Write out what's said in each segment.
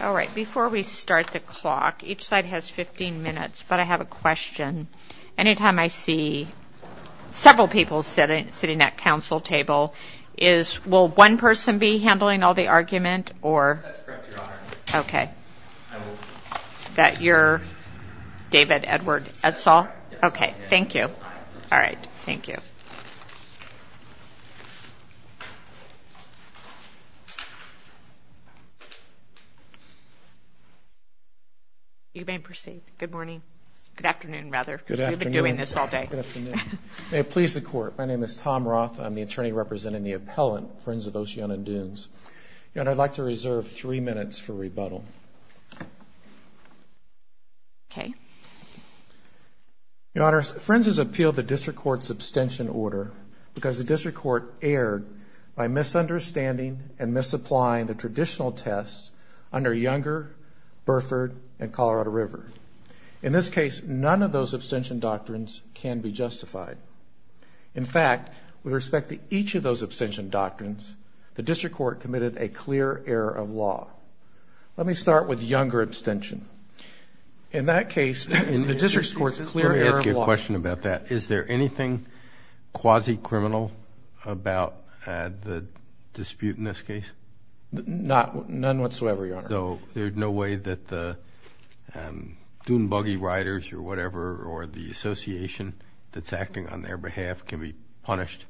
All right before we start the clock each side has 15 minutes but I have a question anytime I see several people sitting sitting at council table is will one person be handling all the argument or okay that you're David Edward that's all okay thank you all right thank you you may proceed good morning good afternoon rather good afternoon doing this all day good afternoon may it please the court my name is Tom Roth I'm the attorney representing the appellant Friends of Oceano Dunes and I'd like to reserve three minutes for rebuttal okay your honor friends has appealed the district court's abstention order because the district court erred by misunderstanding and misapplying the traditional tests under Younger Burford and Colorado River in this case none of those abstention doctrines can be justified in fact with respect to each of those abstention doctrines the district court committed a clear error of law let me start with Younger abstention in that case in the district court's clear question about that is there anything quasi-criminal about the dispute in this case not none whatsoever you know there's no way that the dune buggy riders or whatever or the association that's acting on their behalf can be punished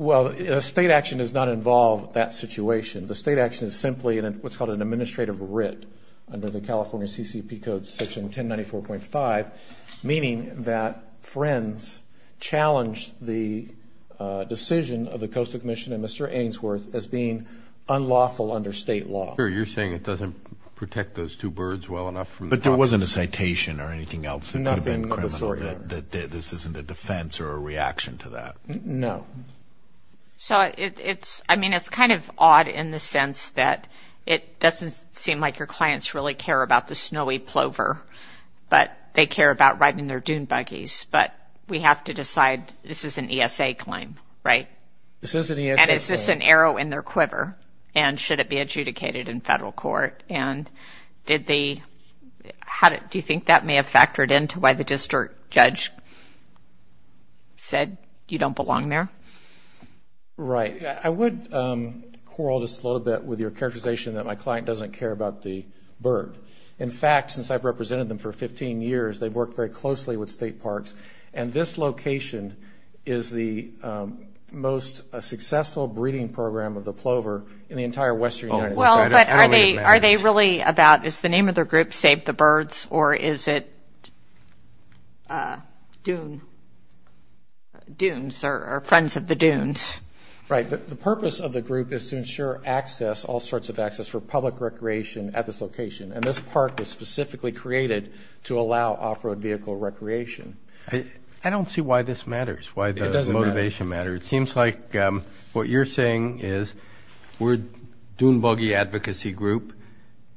well a state action does not involve that situation the state action is simply and what's called an administrative writ under the California CCP codes section 1094.5 meaning that friends challenged the decision of the Coastal Commission and Mr. Ainsworth as being unlawful under state law you're saying it doesn't protect those two birds well enough but there wasn't a citation or anything else nothing that this isn't a defense or a reaction to that no so it's I mean it's kind of odd in the sense that it doesn't seem like your clients really care about the snowy plover but they care about riding their dune buggies but we have to decide this is an ESA claim right this is an arrow in their quiver and should it be adjudicated in federal court and did they how did you think that may have factored into why the district judge said you don't belong there right I would quarrel just a little bit with your characterization that my client doesn't care about the bird in fact since I've represented them for 15 years they've worked very closely with state parks and this location is the most successful breeding program of the plover in the entire Western well are they are they really about is the name of their group save the birds or is it dune dunes are friends of the dunes right the purpose of the group is to recreation at this location and this park was specifically created to allow off-road vehicle recreation I don't see why this matters why the motivation matter it seems like what you're saying is we're doing buggy advocacy group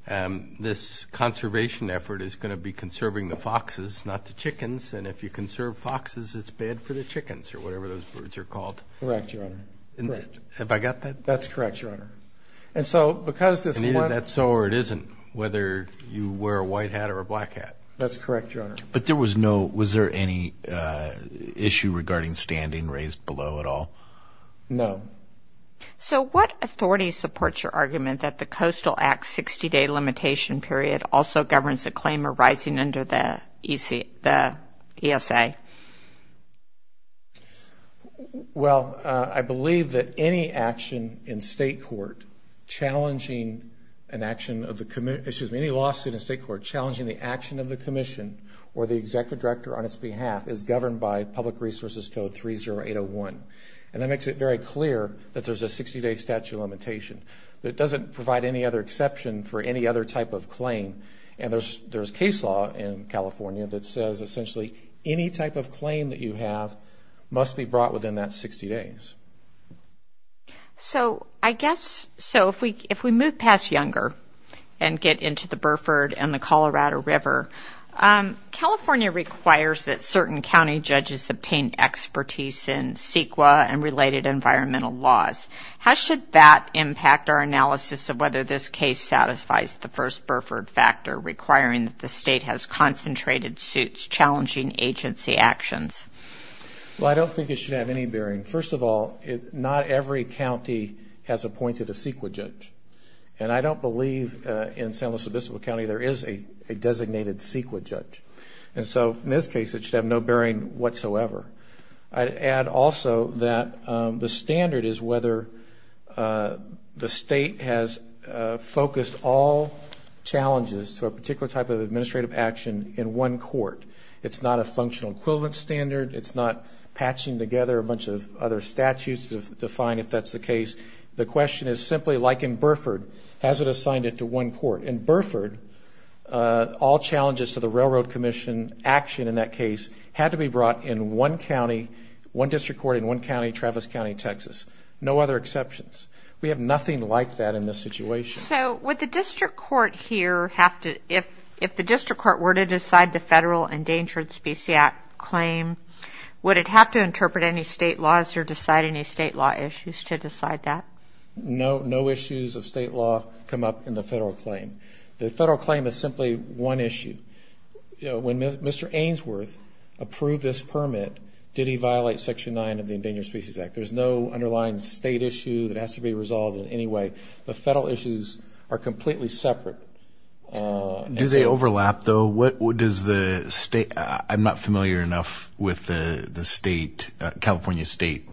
and this conservation effort is going to be conserving the foxes not the chickens and if you can serve foxes it's bad for the chickens or whatever those birds are called correct your honor have I got that that's correct your honor and so because this one that's so or it isn't whether you wear a white hat or a black hat that's correct your honor but there was no was there any issue regarding standing raised below at all no so what authority supports your argument that the Coastal Act 60-day limitation period also governs a claim arising under the ESA well I believe that any action in state court challenging an action of the committee issues many lawsuits a court challenging the action of the Commission or the executive director on its behalf is governed by public resources code 30 801 and that makes it very clear that there's a 60-day statute limitation but it doesn't provide any other exception for any other type of claim and there's case law in California that says essentially any type of claim that you have must be brought within that 60 days so I guess so if we if we move past younger and get into the Burford and the Colorado River California requires that certain county judges obtain expertise in CEQA and related environmental laws how should that impact our analysis of whether this case satisfies the first Burford factor requiring that the state has concentrated suits challenging agency actions well I don't think it should have any bearing first of all it not every county has appointed a CEQA judge and I don't believe in San Luis Obispo County there is a designated CEQA judge and so in this case it should have no bearing whatsoever I'd add also that the standard is whether the state has focused all challenges to a particular type of administrative action in one court it's not a functional equivalent standard it's not patching together a bunch of other statutes to define if that's the case the question is simply like in Burford has it assigned it to one court in Burford all challenges to the Railroad Commission action in that case had to be brought in one county one district court in one county Travis County Texas no other exceptions we have nothing like that in this situation so with the district court here have to if if the district court were to decide the federal endangered species act claim would it have to interpret any state laws or decide any state law issues to decide that no no issues of state law come up in the federal claim the federal claim is simply one issue when Mr. Ainsworth approved this permit did he violate section 9 of the Endangered Species Act there's no underlying state issue that has to be resolved in any way the federal issues are completely separate do they overlap though what would is the state I'm not familiar enough with the the state California state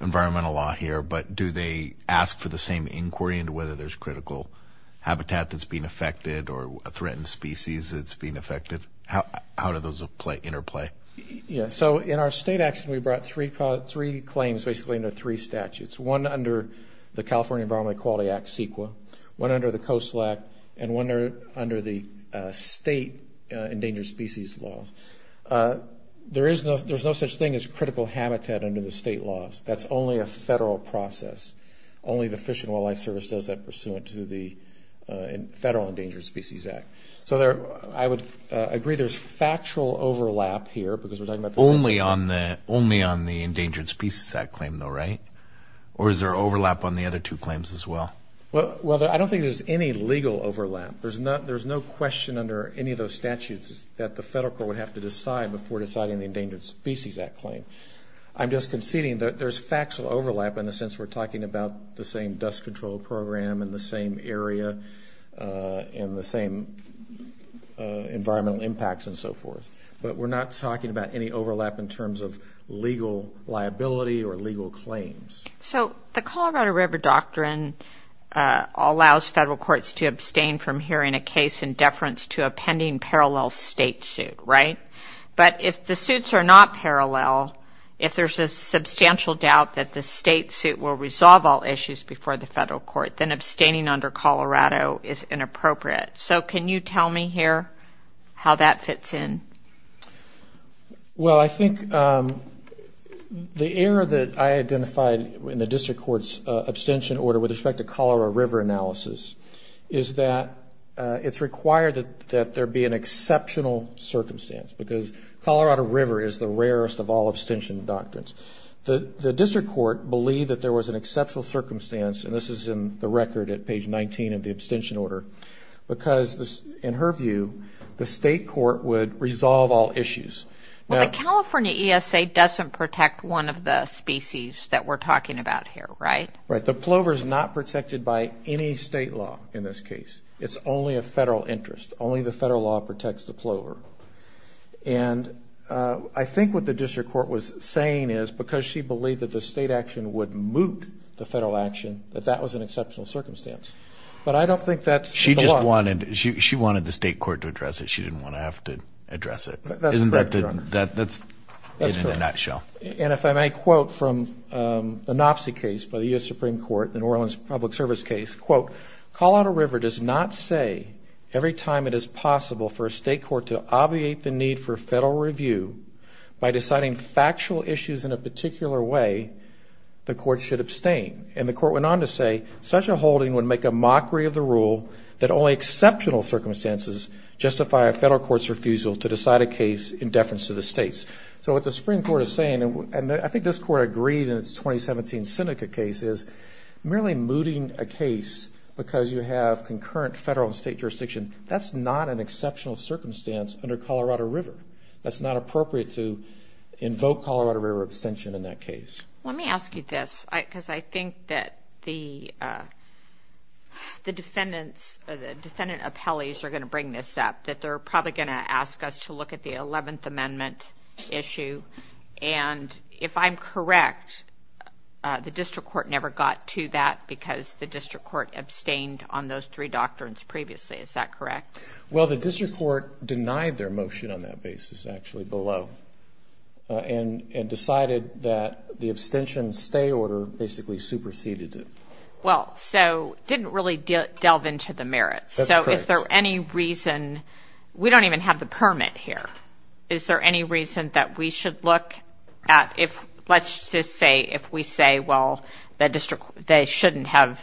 environmental law here but do they ask for the same inquiry into whether there's critical habitat that's being affected or a threatened species that's being affected how how do those apply interplay yeah so in our state action we brought three caught three claims basically under three statutes one under the California Environment Equality Act CEQA one under the Coastal Act and one under the state endangered species laws there is no there's no such thing as critical habitat under the state laws that's only a federal process only the Fish and Wildlife Service does that pursuant to the Federal Endangered Species Act so there I would agree there's factual overlap here because we're talking about only on the only on the Endangered Species Act claim though right or is there overlap on the other two claims as well well I don't think there's any legal overlap there's not there's no question under any of those statutes that the federal court would have to decide before deciding the Endangered Species Act claim I'm just conceding that there's factual overlap in the sense we're talking about the same dust control program in the same area in the same environmental impacts but we're not talking about any overlap in terms of legal liability or legal claims so the Colorado River Doctrine allows federal courts to abstain from hearing a case in deference to a pending parallel state suit right but if the suits are not parallel if there's a substantial doubt that the state suit will resolve all issues before the federal court then abstaining under how that fits in well I think the error that I identified when the district courts abstention order with respect to Colorado River analysis is that it's required that there be an exceptional circumstance because Colorado River is the rarest of all abstention doctrines the the district court believed that there was an exceptional circumstance and this is in the record at page 19 of the abstention order because in her view the state court would resolve all issues now California ESA doesn't protect one of the species that we're talking about here right right the plover is not protected by any state law in this case it's only a federal interest only the federal law protects the plover and I think what the district court was saying is because she believed that the state action would moot the federal action that that was an circumstance but I don't think that she just wanted she wanted the state court to address it she didn't want to have to address it that's in a nutshell and if I may quote from an op-see case by the US Supreme Court in Orleans public service case quote Colorado River does not say every time it is possible for a state court to obviate the need for federal review by deciding factual issues in a holding would make a mockery of the rule that only exceptional circumstances justify a federal court's refusal to decide a case in deference to the states so what the Supreme Court is saying and I think this court agreed in its 2017 Seneca case is merely mooting a case because you have concurrent federal and state jurisdiction that's not an exceptional circumstance under Colorado River that's not appropriate to invoke Colorado River abstention in that case let me ask you this because I think that the the defendants the defendant appellees are going to bring this up that they're probably going to ask us to look at the 11th amendment issue and if I'm correct the district court never got to that because the district court abstained on those three doctrines previously is that correct well the district court denied their motion on that basis actually below and and decided that the abstention stay order basically superseded it well so didn't really delve into the merits so is there any reason we don't even have the permit here is there any reason that we should look at if let's just say if we say well the district they shouldn't have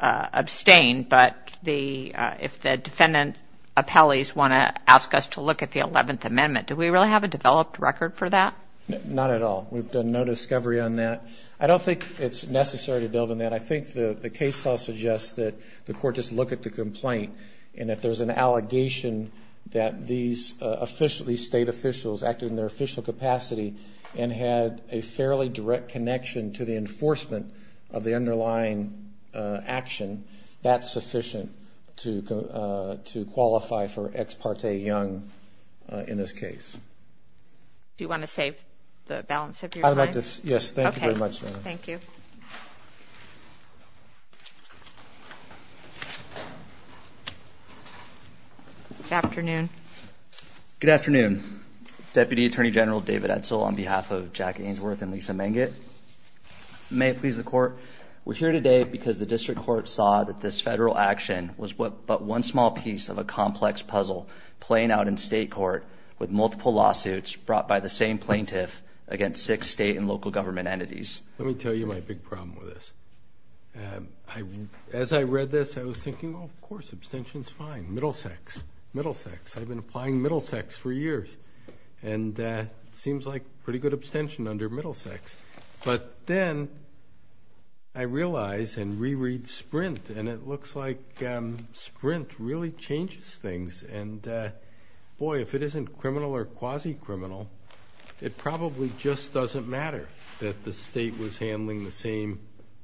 abstained but the if the defendant appellees want to ask us to look at the 11th amendment do we really have a developed record for that not at all we've done no discovery on that I don't think it's necessary to build on that I think the the case I'll suggest that the court just look at the complaint and if there's an allegation that these officially state officials acted in their official capacity and had a fairly direct connection to the enforcement of the underlying action that's sufficient to to qualify for ex parte young in this case you want to save the balance of this yes thank you very much thank you afternoon good afternoon Deputy Attorney General David Edsel on behalf of Jack we're here today because the district court saw that this federal action was what but one small piece of a complex puzzle playing out in state court with multiple lawsuits brought by the same plaintiff against six state and local government entities let me tell you my big problem with this I as I read this I was thinking of course abstentions fine middle sex middle sex I've been applying middle sex for years and that seems like pretty good abstention under middle sex but then I realize and reread sprint and it looks like sprint really changes things and boy if it isn't criminal or quasi criminal it probably just doesn't matter that the state was handling the same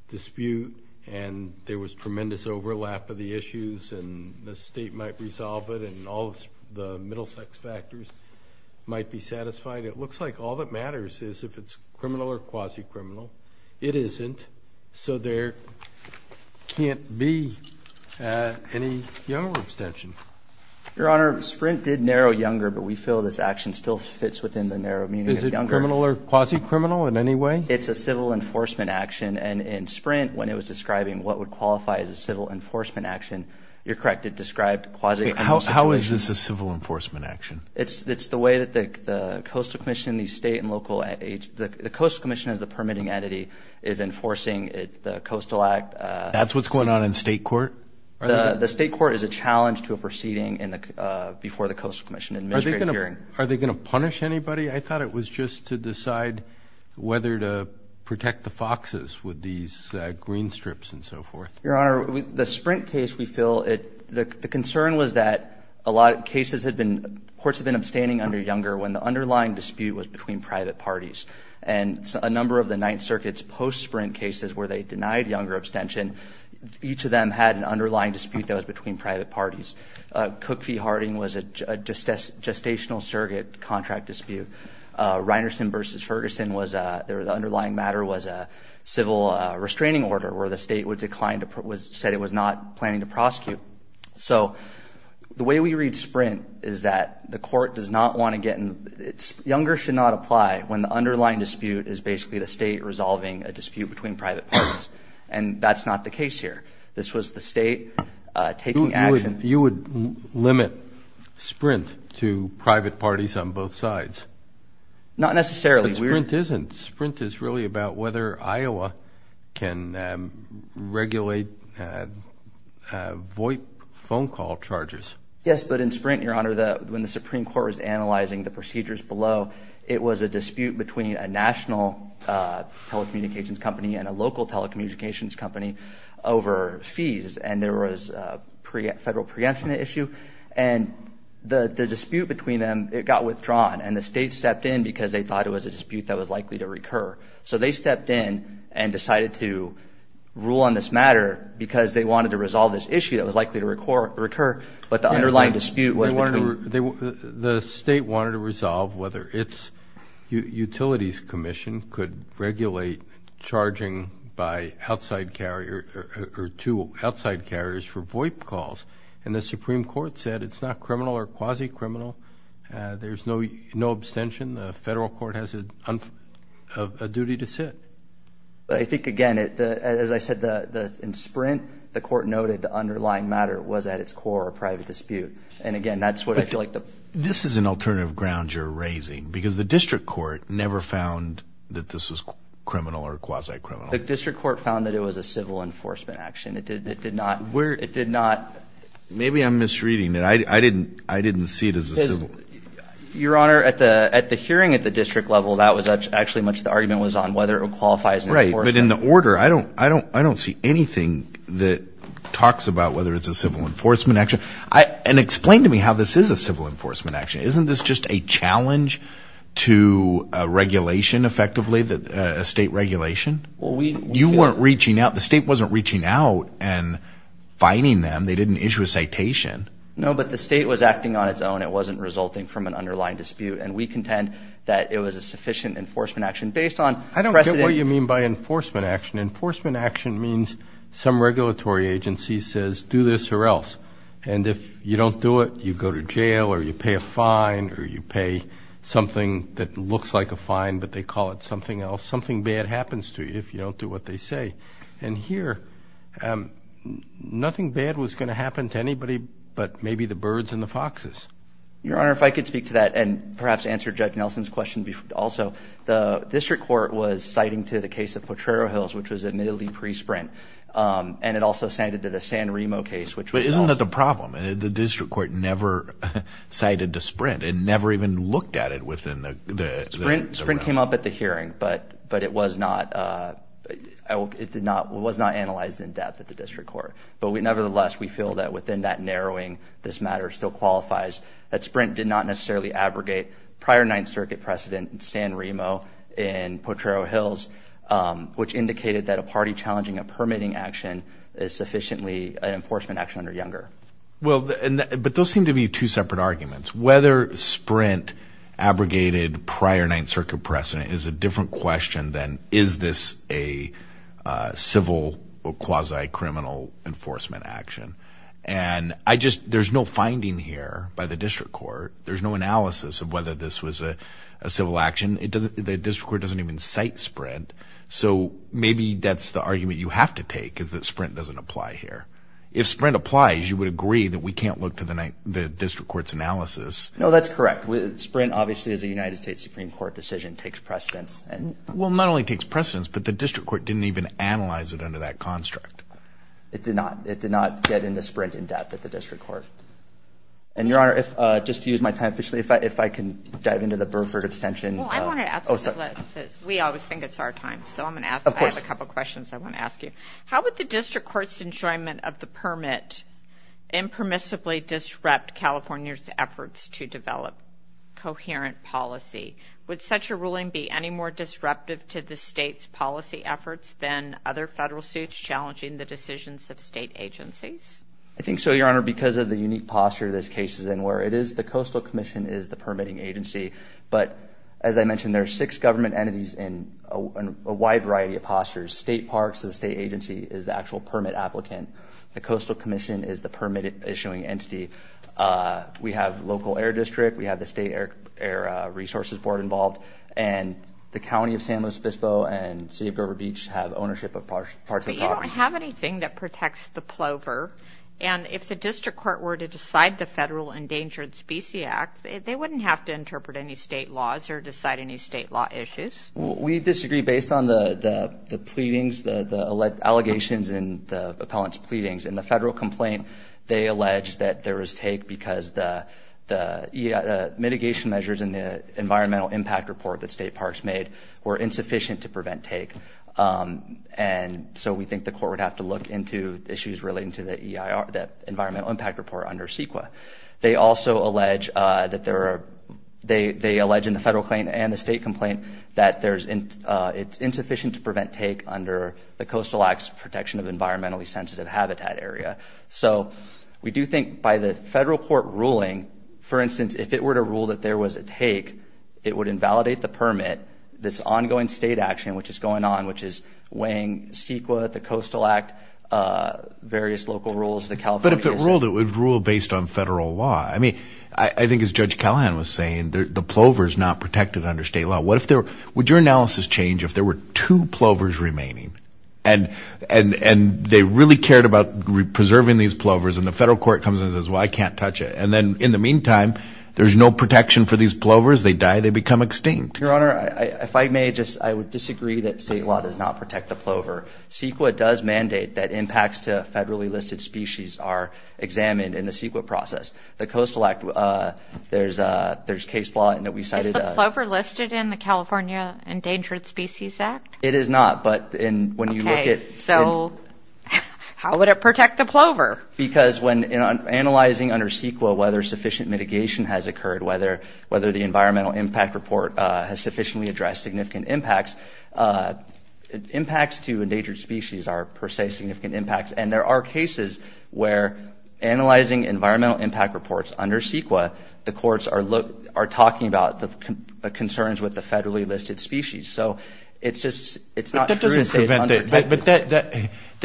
dispute and there was tremendous overlap of the issues and the state might resolve it and all the middle sex factors might be satisfied it looks like all that matters is if it's criminal or quasi criminal it isn't so there can't be any younger abstention your honor sprint did narrow younger but we feel this action still fits within the narrow meaning younger criminal or quasi criminal in any way it's a civil enforcement action and in sprint when it was describing what would qualify as a civil enforcement action you're correct it described quasi how is this a civil enforcement action it's it's the way that the Coastal Commission these state and local age the Coastal Commission is the permitting entity is enforcing it's the Coastal Act that's what's going on in state court the state court is a challenge to a proceeding in the before the Coastal Commission and measuring are they gonna punish anybody I thought it was just to decide whether to protect the foxes with these green strips and so forth your honor with the sprint case we feel it the concern was that a lot of cases had been courts have been private parties and a number of the Ninth Circuit's post sprint cases where they denied younger abstention each of them had an underlying dispute that was between private parties Cook v Harding was a just as gestational surrogate contract dispute Reinerson versus Ferguson was there the underlying matter was a civil restraining order where the state would decline to put was said it was not planning to prosecute so the way we read sprint is that the court does not want to get younger should not apply when the underlying dispute is basically the state resolving a dispute between private and that's not the case here this was the state taking action you would limit sprint to private parties on both sides not necessarily sprint isn't sprint is really about whether Iowa can regulate Voight phone call charges yes but in sprint your when the Supreme Court was analyzing the procedures below it was a dispute between a national telecommunications company and a local telecommunications company over fees and there was pre federal preemption issue and the dispute between them it got withdrawn and the state stepped in because they thought it was a dispute that was likely to recur so they stepped in and decided to rule on this matter because they wanted to resolve this issue that was likely to core recur but the underlying dispute was the state wanted to resolve whether its Utilities Commission could regulate charging by outside carrier or to outside carriers for Voight calls and the Supreme Court said it's not criminal or quasi criminal there's no no abstention the federal court has a duty to sit but I think again it as I said the in sprint the court noted the underlying matter was at its core a private dispute and again that's what I feel like this is an alternative ground you're raising because the district court never found that this was criminal or quasi criminal the district court found that it was a civil enforcement action it did it did not where it did not maybe I'm misreading that I didn't I didn't see it as a civil your honor at the at the hearing at the district level that was actually much the argument was on whether it qualifies right but in the order I don't I don't I don't see anything that talks about whether it's a civil enforcement action I and explain to me how this is a civil enforcement action isn't this just a challenge to regulation effectively that a state regulation you weren't reaching out the state wasn't reaching out and finding them they didn't issue a citation no but the state was acting on its own it wasn't resulting from an underlying dispute and we contend that it was a sufficient enforcement action based on I don't get what you mean by enforcement action enforcement action means some regulatory agency says do this or else and if you don't do it you go to jail or you pay a fine or you pay something that looks like a fine but they call it something else something bad happens to you if you don't do what they say and here nothing bad was going to happen to anybody but maybe the birds and the foxes your honor if I could speak to that and perhaps answer judge Nelson's question before also the district court was citing to the case of Potrero Hills which was admittedly pre sprint and it also cited to the San Remo case which wasn't that the problem the district court never cited to sprint and never even looked at it within the sprint sprint came up at the hearing but but it was not it did not was not analyzed in depth at the district court but we nevertheless we feel that within that narrowing this matter still qualifies that sprint did not necessarily abrogate prior Ninth Circuit precedent in San Remo in Potrero Hills which indicated that a party challenging a permitting action is sufficiently an enforcement action under Younger well but those seem to be two separate arguments whether sprint abrogated prior Ninth Circuit precedent is a different question than is this a by the district court there's no analysis of whether this was a civil action it doesn't the district court doesn't even cite spread so maybe that's the argument you have to take is that sprint doesn't apply here if sprint applies you would agree that we can't look to the night the district courts analysis no that's correct with sprint obviously as a United States Supreme Court decision takes precedence and well not only takes precedence but the district court didn't even analyze it under that construct it did not it did in the sprint in depth at the district court and your honor if just use my time officially if I if I can dive into the Burford extension we always think it's our time so I'm gonna ask a couple questions I want to ask you how would the district courts enjoyment of the permit impermissibly disrupt California's efforts to develop coherent policy would such a ruling be any more disruptive to the state's policy efforts than other federal suits challenging the decisions of state agencies I think so your honor because of the unique posture this case is in where it is the Coastal Commission is the permitting agency but as I mentioned there are six government entities in a wide variety of postures state parks the state agency is the actual permit applicant the Coastal Commission is the permitted issuing entity we have local air district we have the state air resources board involved and the county of San Luis anything that protects the plover and if the district court were to decide the federal endangered species act they wouldn't have to interpret any state laws or decide any state law issues we disagree based on the the pleadings the the allegations in the appellant's pleadings in the federal complaint they allege that there is take because the the mitigation measures in the and so we think the court would have to look into issues relating to the ER that environmental impact report under CEQA they also allege that there are they they allege in the federal claim and the state complaint that there's in it's insufficient to prevent take under the coastal acts protection of environmentally sensitive habitat area so we do think by the federal court ruling for instance if it were to rule that there was a take it would invalidate the permit this ongoing state action which is going on which is weighing CEQA, the Coastal Act, various local rules. But if it ruled it would rule based on federal law I mean I think as Judge Callahan was saying the plovers not protected under state law what if there would your analysis change if there were two plovers remaining and and and they really cared about preserving these plovers and the federal court comes and says well I can't touch it and then in the meantime there's no protection for these plovers they die they become extinct. Your Honor, if I may just I would disagree that state law does not protect the plover. CEQA does mandate that impacts to federally listed species are examined in the CEQA process. The Coastal Act there's a there's case law and that we cited. Is the plover listed in the California Endangered Species Act? It is not but in when you look at. So how would it protect the plover? Because when in analyzing under CEQA whether sufficient mitigation has occurred whether whether the environmental impact report has sufficiently addressed significant impacts. Impacts to endangered species are per se significant impacts and there are cases where analyzing environmental impact reports under CEQA the courts are look are talking about the concerns with the federally listed species. So it's just it's not. That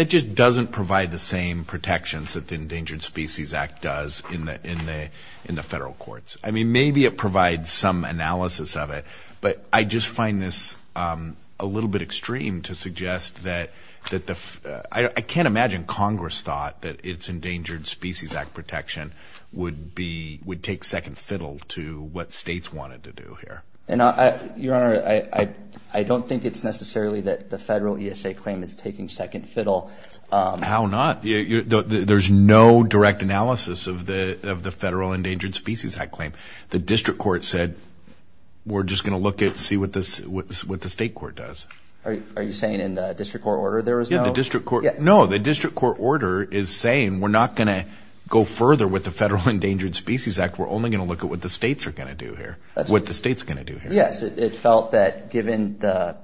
just doesn't provide the same protections that the Endangered Species Act does in the in the in the federal courts. I mean maybe it provides some analysis of it but I just find this a little bit extreme to suggest that that the I can't imagine Congress thought that it's Endangered Species Act protection would be would take second fiddle to what states wanted to do here. And I your honor I I don't think it's necessarily that the federal ESA claim is taking second fiddle. How not? There's no direct analysis of the Federal Endangered Species Act claim. The district court said we're just gonna look at see what this what the state court does. Are you saying in the district court order there was no? The district court no the district court order is saying we're not gonna go further with the Federal Endangered Species Act. We're only gonna look at what the states are gonna do here. What the state's gonna do. Yes it felt that given the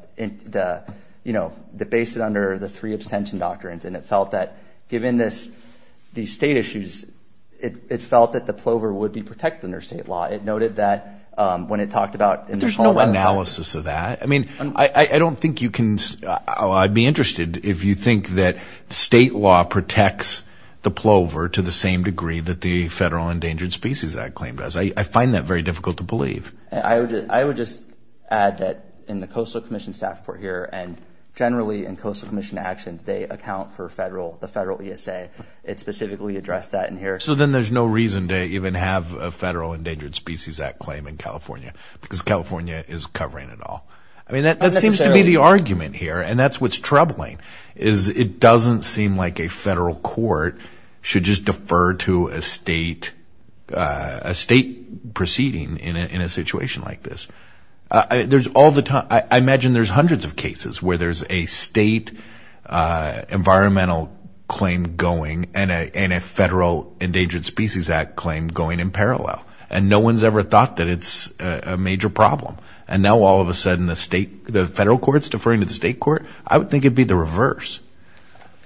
you know the basis under the three abstention doctrines and it felt that given this these state issues it felt that the plover would be protected under state law. It noted that when it talked about there's no analysis of that. I mean I don't think you can I'd be interested if you think that state law protects the plover to the same degree that the Federal Endangered Species Act claim does. I find that very difficult to believe. I would I would just add that in the Coastal Commission staff report here and generally in Coastal Federal the Federal ESA it specifically addressed that in here. So then there's no reason to even have a Federal Endangered Species Act claim in California because California is covering it all. I mean that seems to be the argument here and that's what's troubling is it doesn't seem like a federal court should just defer to a state a state proceeding in a situation like this. There's all the time I imagine there's hundreds of cases where there's a state environmental claim going and a Federal Endangered Species Act claim going in parallel and no one's ever thought that it's a major problem and now all of a sudden the state the federal courts deferring to the state court. I would think it'd be the reverse.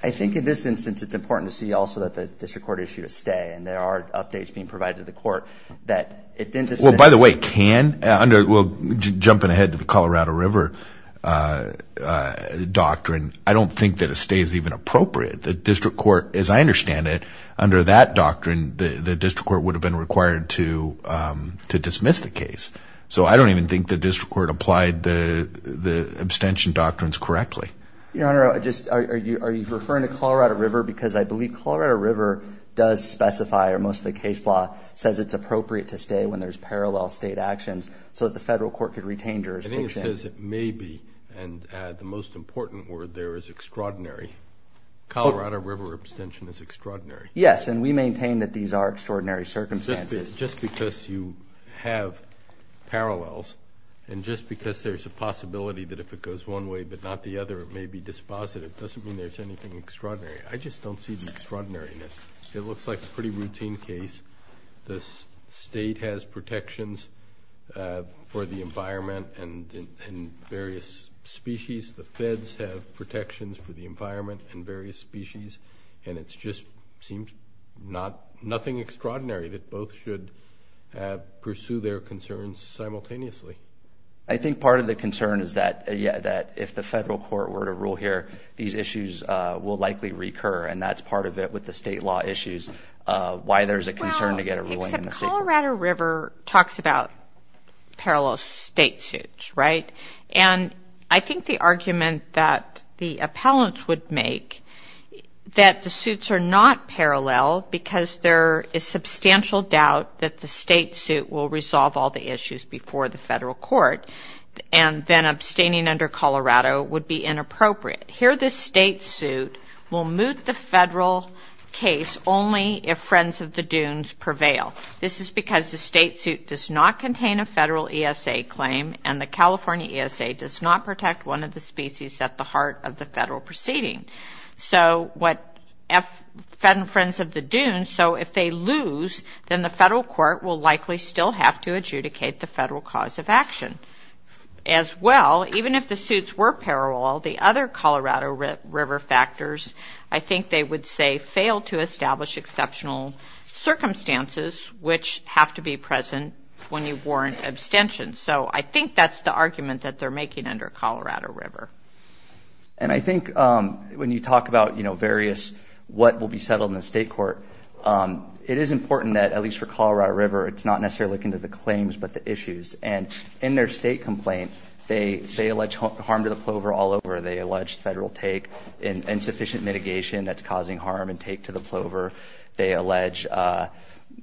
I think in this instance it's important to see also that the district court issue is stay and there are updates being provided to the court that it didn't just well by the way can under will jumping ahead to the Colorado River doctrine I don't think that a stay is even appropriate. The district court as I understand it under that doctrine the district court would have been required to to dismiss the case so I don't even think the district court applied the the abstention doctrines correctly. Your honor I just are you are you referring to Colorado River because I believe Colorado River does specify or most of the case law says it's appropriate to retain jurisdiction. I think it says it may be and the most important word there is extraordinary. Colorado River abstention is extraordinary. Yes and we maintain that these are extraordinary circumstances. Just because you have parallels and just because there's a possibility that if it goes one way but not the other it may be dispositive doesn't mean there's anything extraordinary. I just don't see the extraordinariness. It looks like a pretty environment and various species the feds have protections for the environment and various species and it's just seemed not nothing extraordinary that both should pursue their concerns simultaneously. I think part of the concern is that yeah that if the federal court were to rule here these issues will likely recur and that's part of it with the state law issues why there's a Colorado River talks about parallel state suits right and I think the argument that the appellants would make that the suits are not parallel because there is substantial doubt that the state suit will resolve all the issues before the federal court and then abstaining under Colorado would be inappropriate. Here this state suit will move the federal case only if Friends of the Dunes prevail. This is because the state suit does not contain a federal ESA claim and the California ESA does not protect one of the species at the heart of the federal proceeding. So what if Friends of the Dunes so if they lose then the federal court will likely still have to adjudicate the federal cause of action. As well even if the suits were parallel the other Colorado River factors I think they would say fail to establish exceptional circumstances which have to be present when you warrant abstention. So I think that's the argument that they're making under Colorado River. And I think when you talk about you know various what will be settled in the state court it is important that at least for Colorado River it's not necessarily looking to the claims but the issues and in their state complaint they say alleged harm to the Plover all over. They allege federal take in insufficient mitigation that's causing harm and take to the Plover. They allege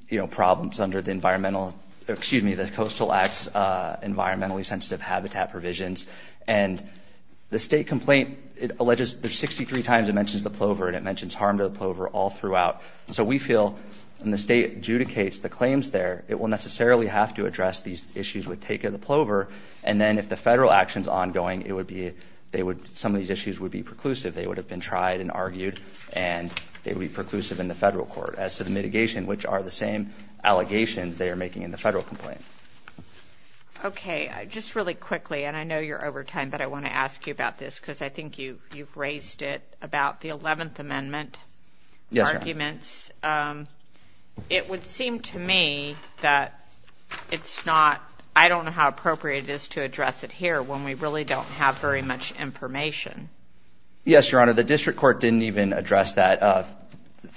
you know problems under the environmental excuse me the Coastal Acts environmentally sensitive habitat provisions. And the state complaint it alleges there's 63 times it mentions the Plover and it mentions harm to the Plover all throughout. So we feel and the state adjudicates the claims there it will necessarily have to address these issues with take of the Plover and then if the federal actions ongoing it would be they would some of these issues would be preclusive they would have been tried and argued and they would be preclusive in the federal court. As to the mitigation which are the same allegations they are making in the federal complaint. Okay just really quickly and I know you're over time but I want to ask you about this because I think you you've raised it about the Eleventh Amendment arguments. It would seem to me that it's not I don't know how appropriate it is to address it here when we really don't have very much information. Yes your honor the district court didn't even address that.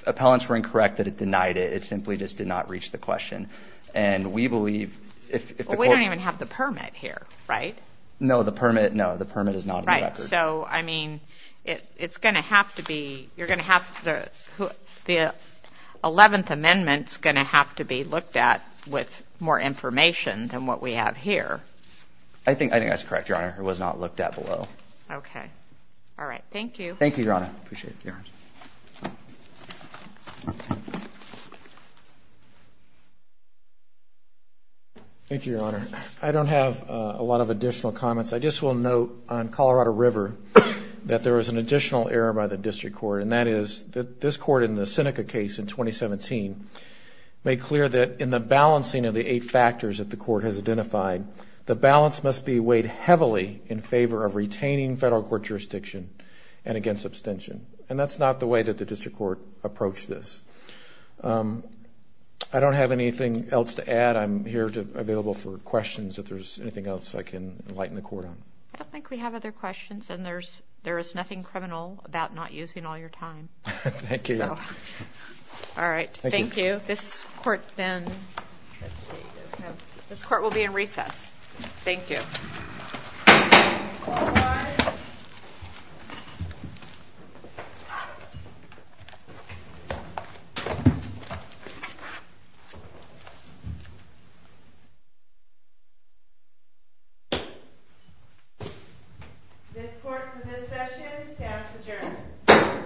Appellants were incorrect that it denied it it simply just did not reach the question and we believe if we don't even have the permit here right? No the permit no the permit is not right. So I mean it it's gonna have to be you're gonna have the the Eleventh Amendment's gonna have to be looked at with more information than what we have here. I think I think that's correct your honor it was not looked at below. Okay all right thank you. Thank you your honor. Thank you your honor. I don't have a lot of additional comments I just will note on Colorado River that there was an additional error by the district court and that is that this court in the Seneca case in 2017 made clear that in the balancing of the eight factors that the court has identified the balance must be weighed heavily in favor of retaining federal court jurisdiction and against abstention and that's not the way that the district court approached this. I don't have anything else to add I'm here to available for questions if there's anything else I can enlighten the court on. I don't think we have other questions and there's there is nothing criminal about not using all your time. Thank you. All right thank you. This court then this court will be in recess. Thank you.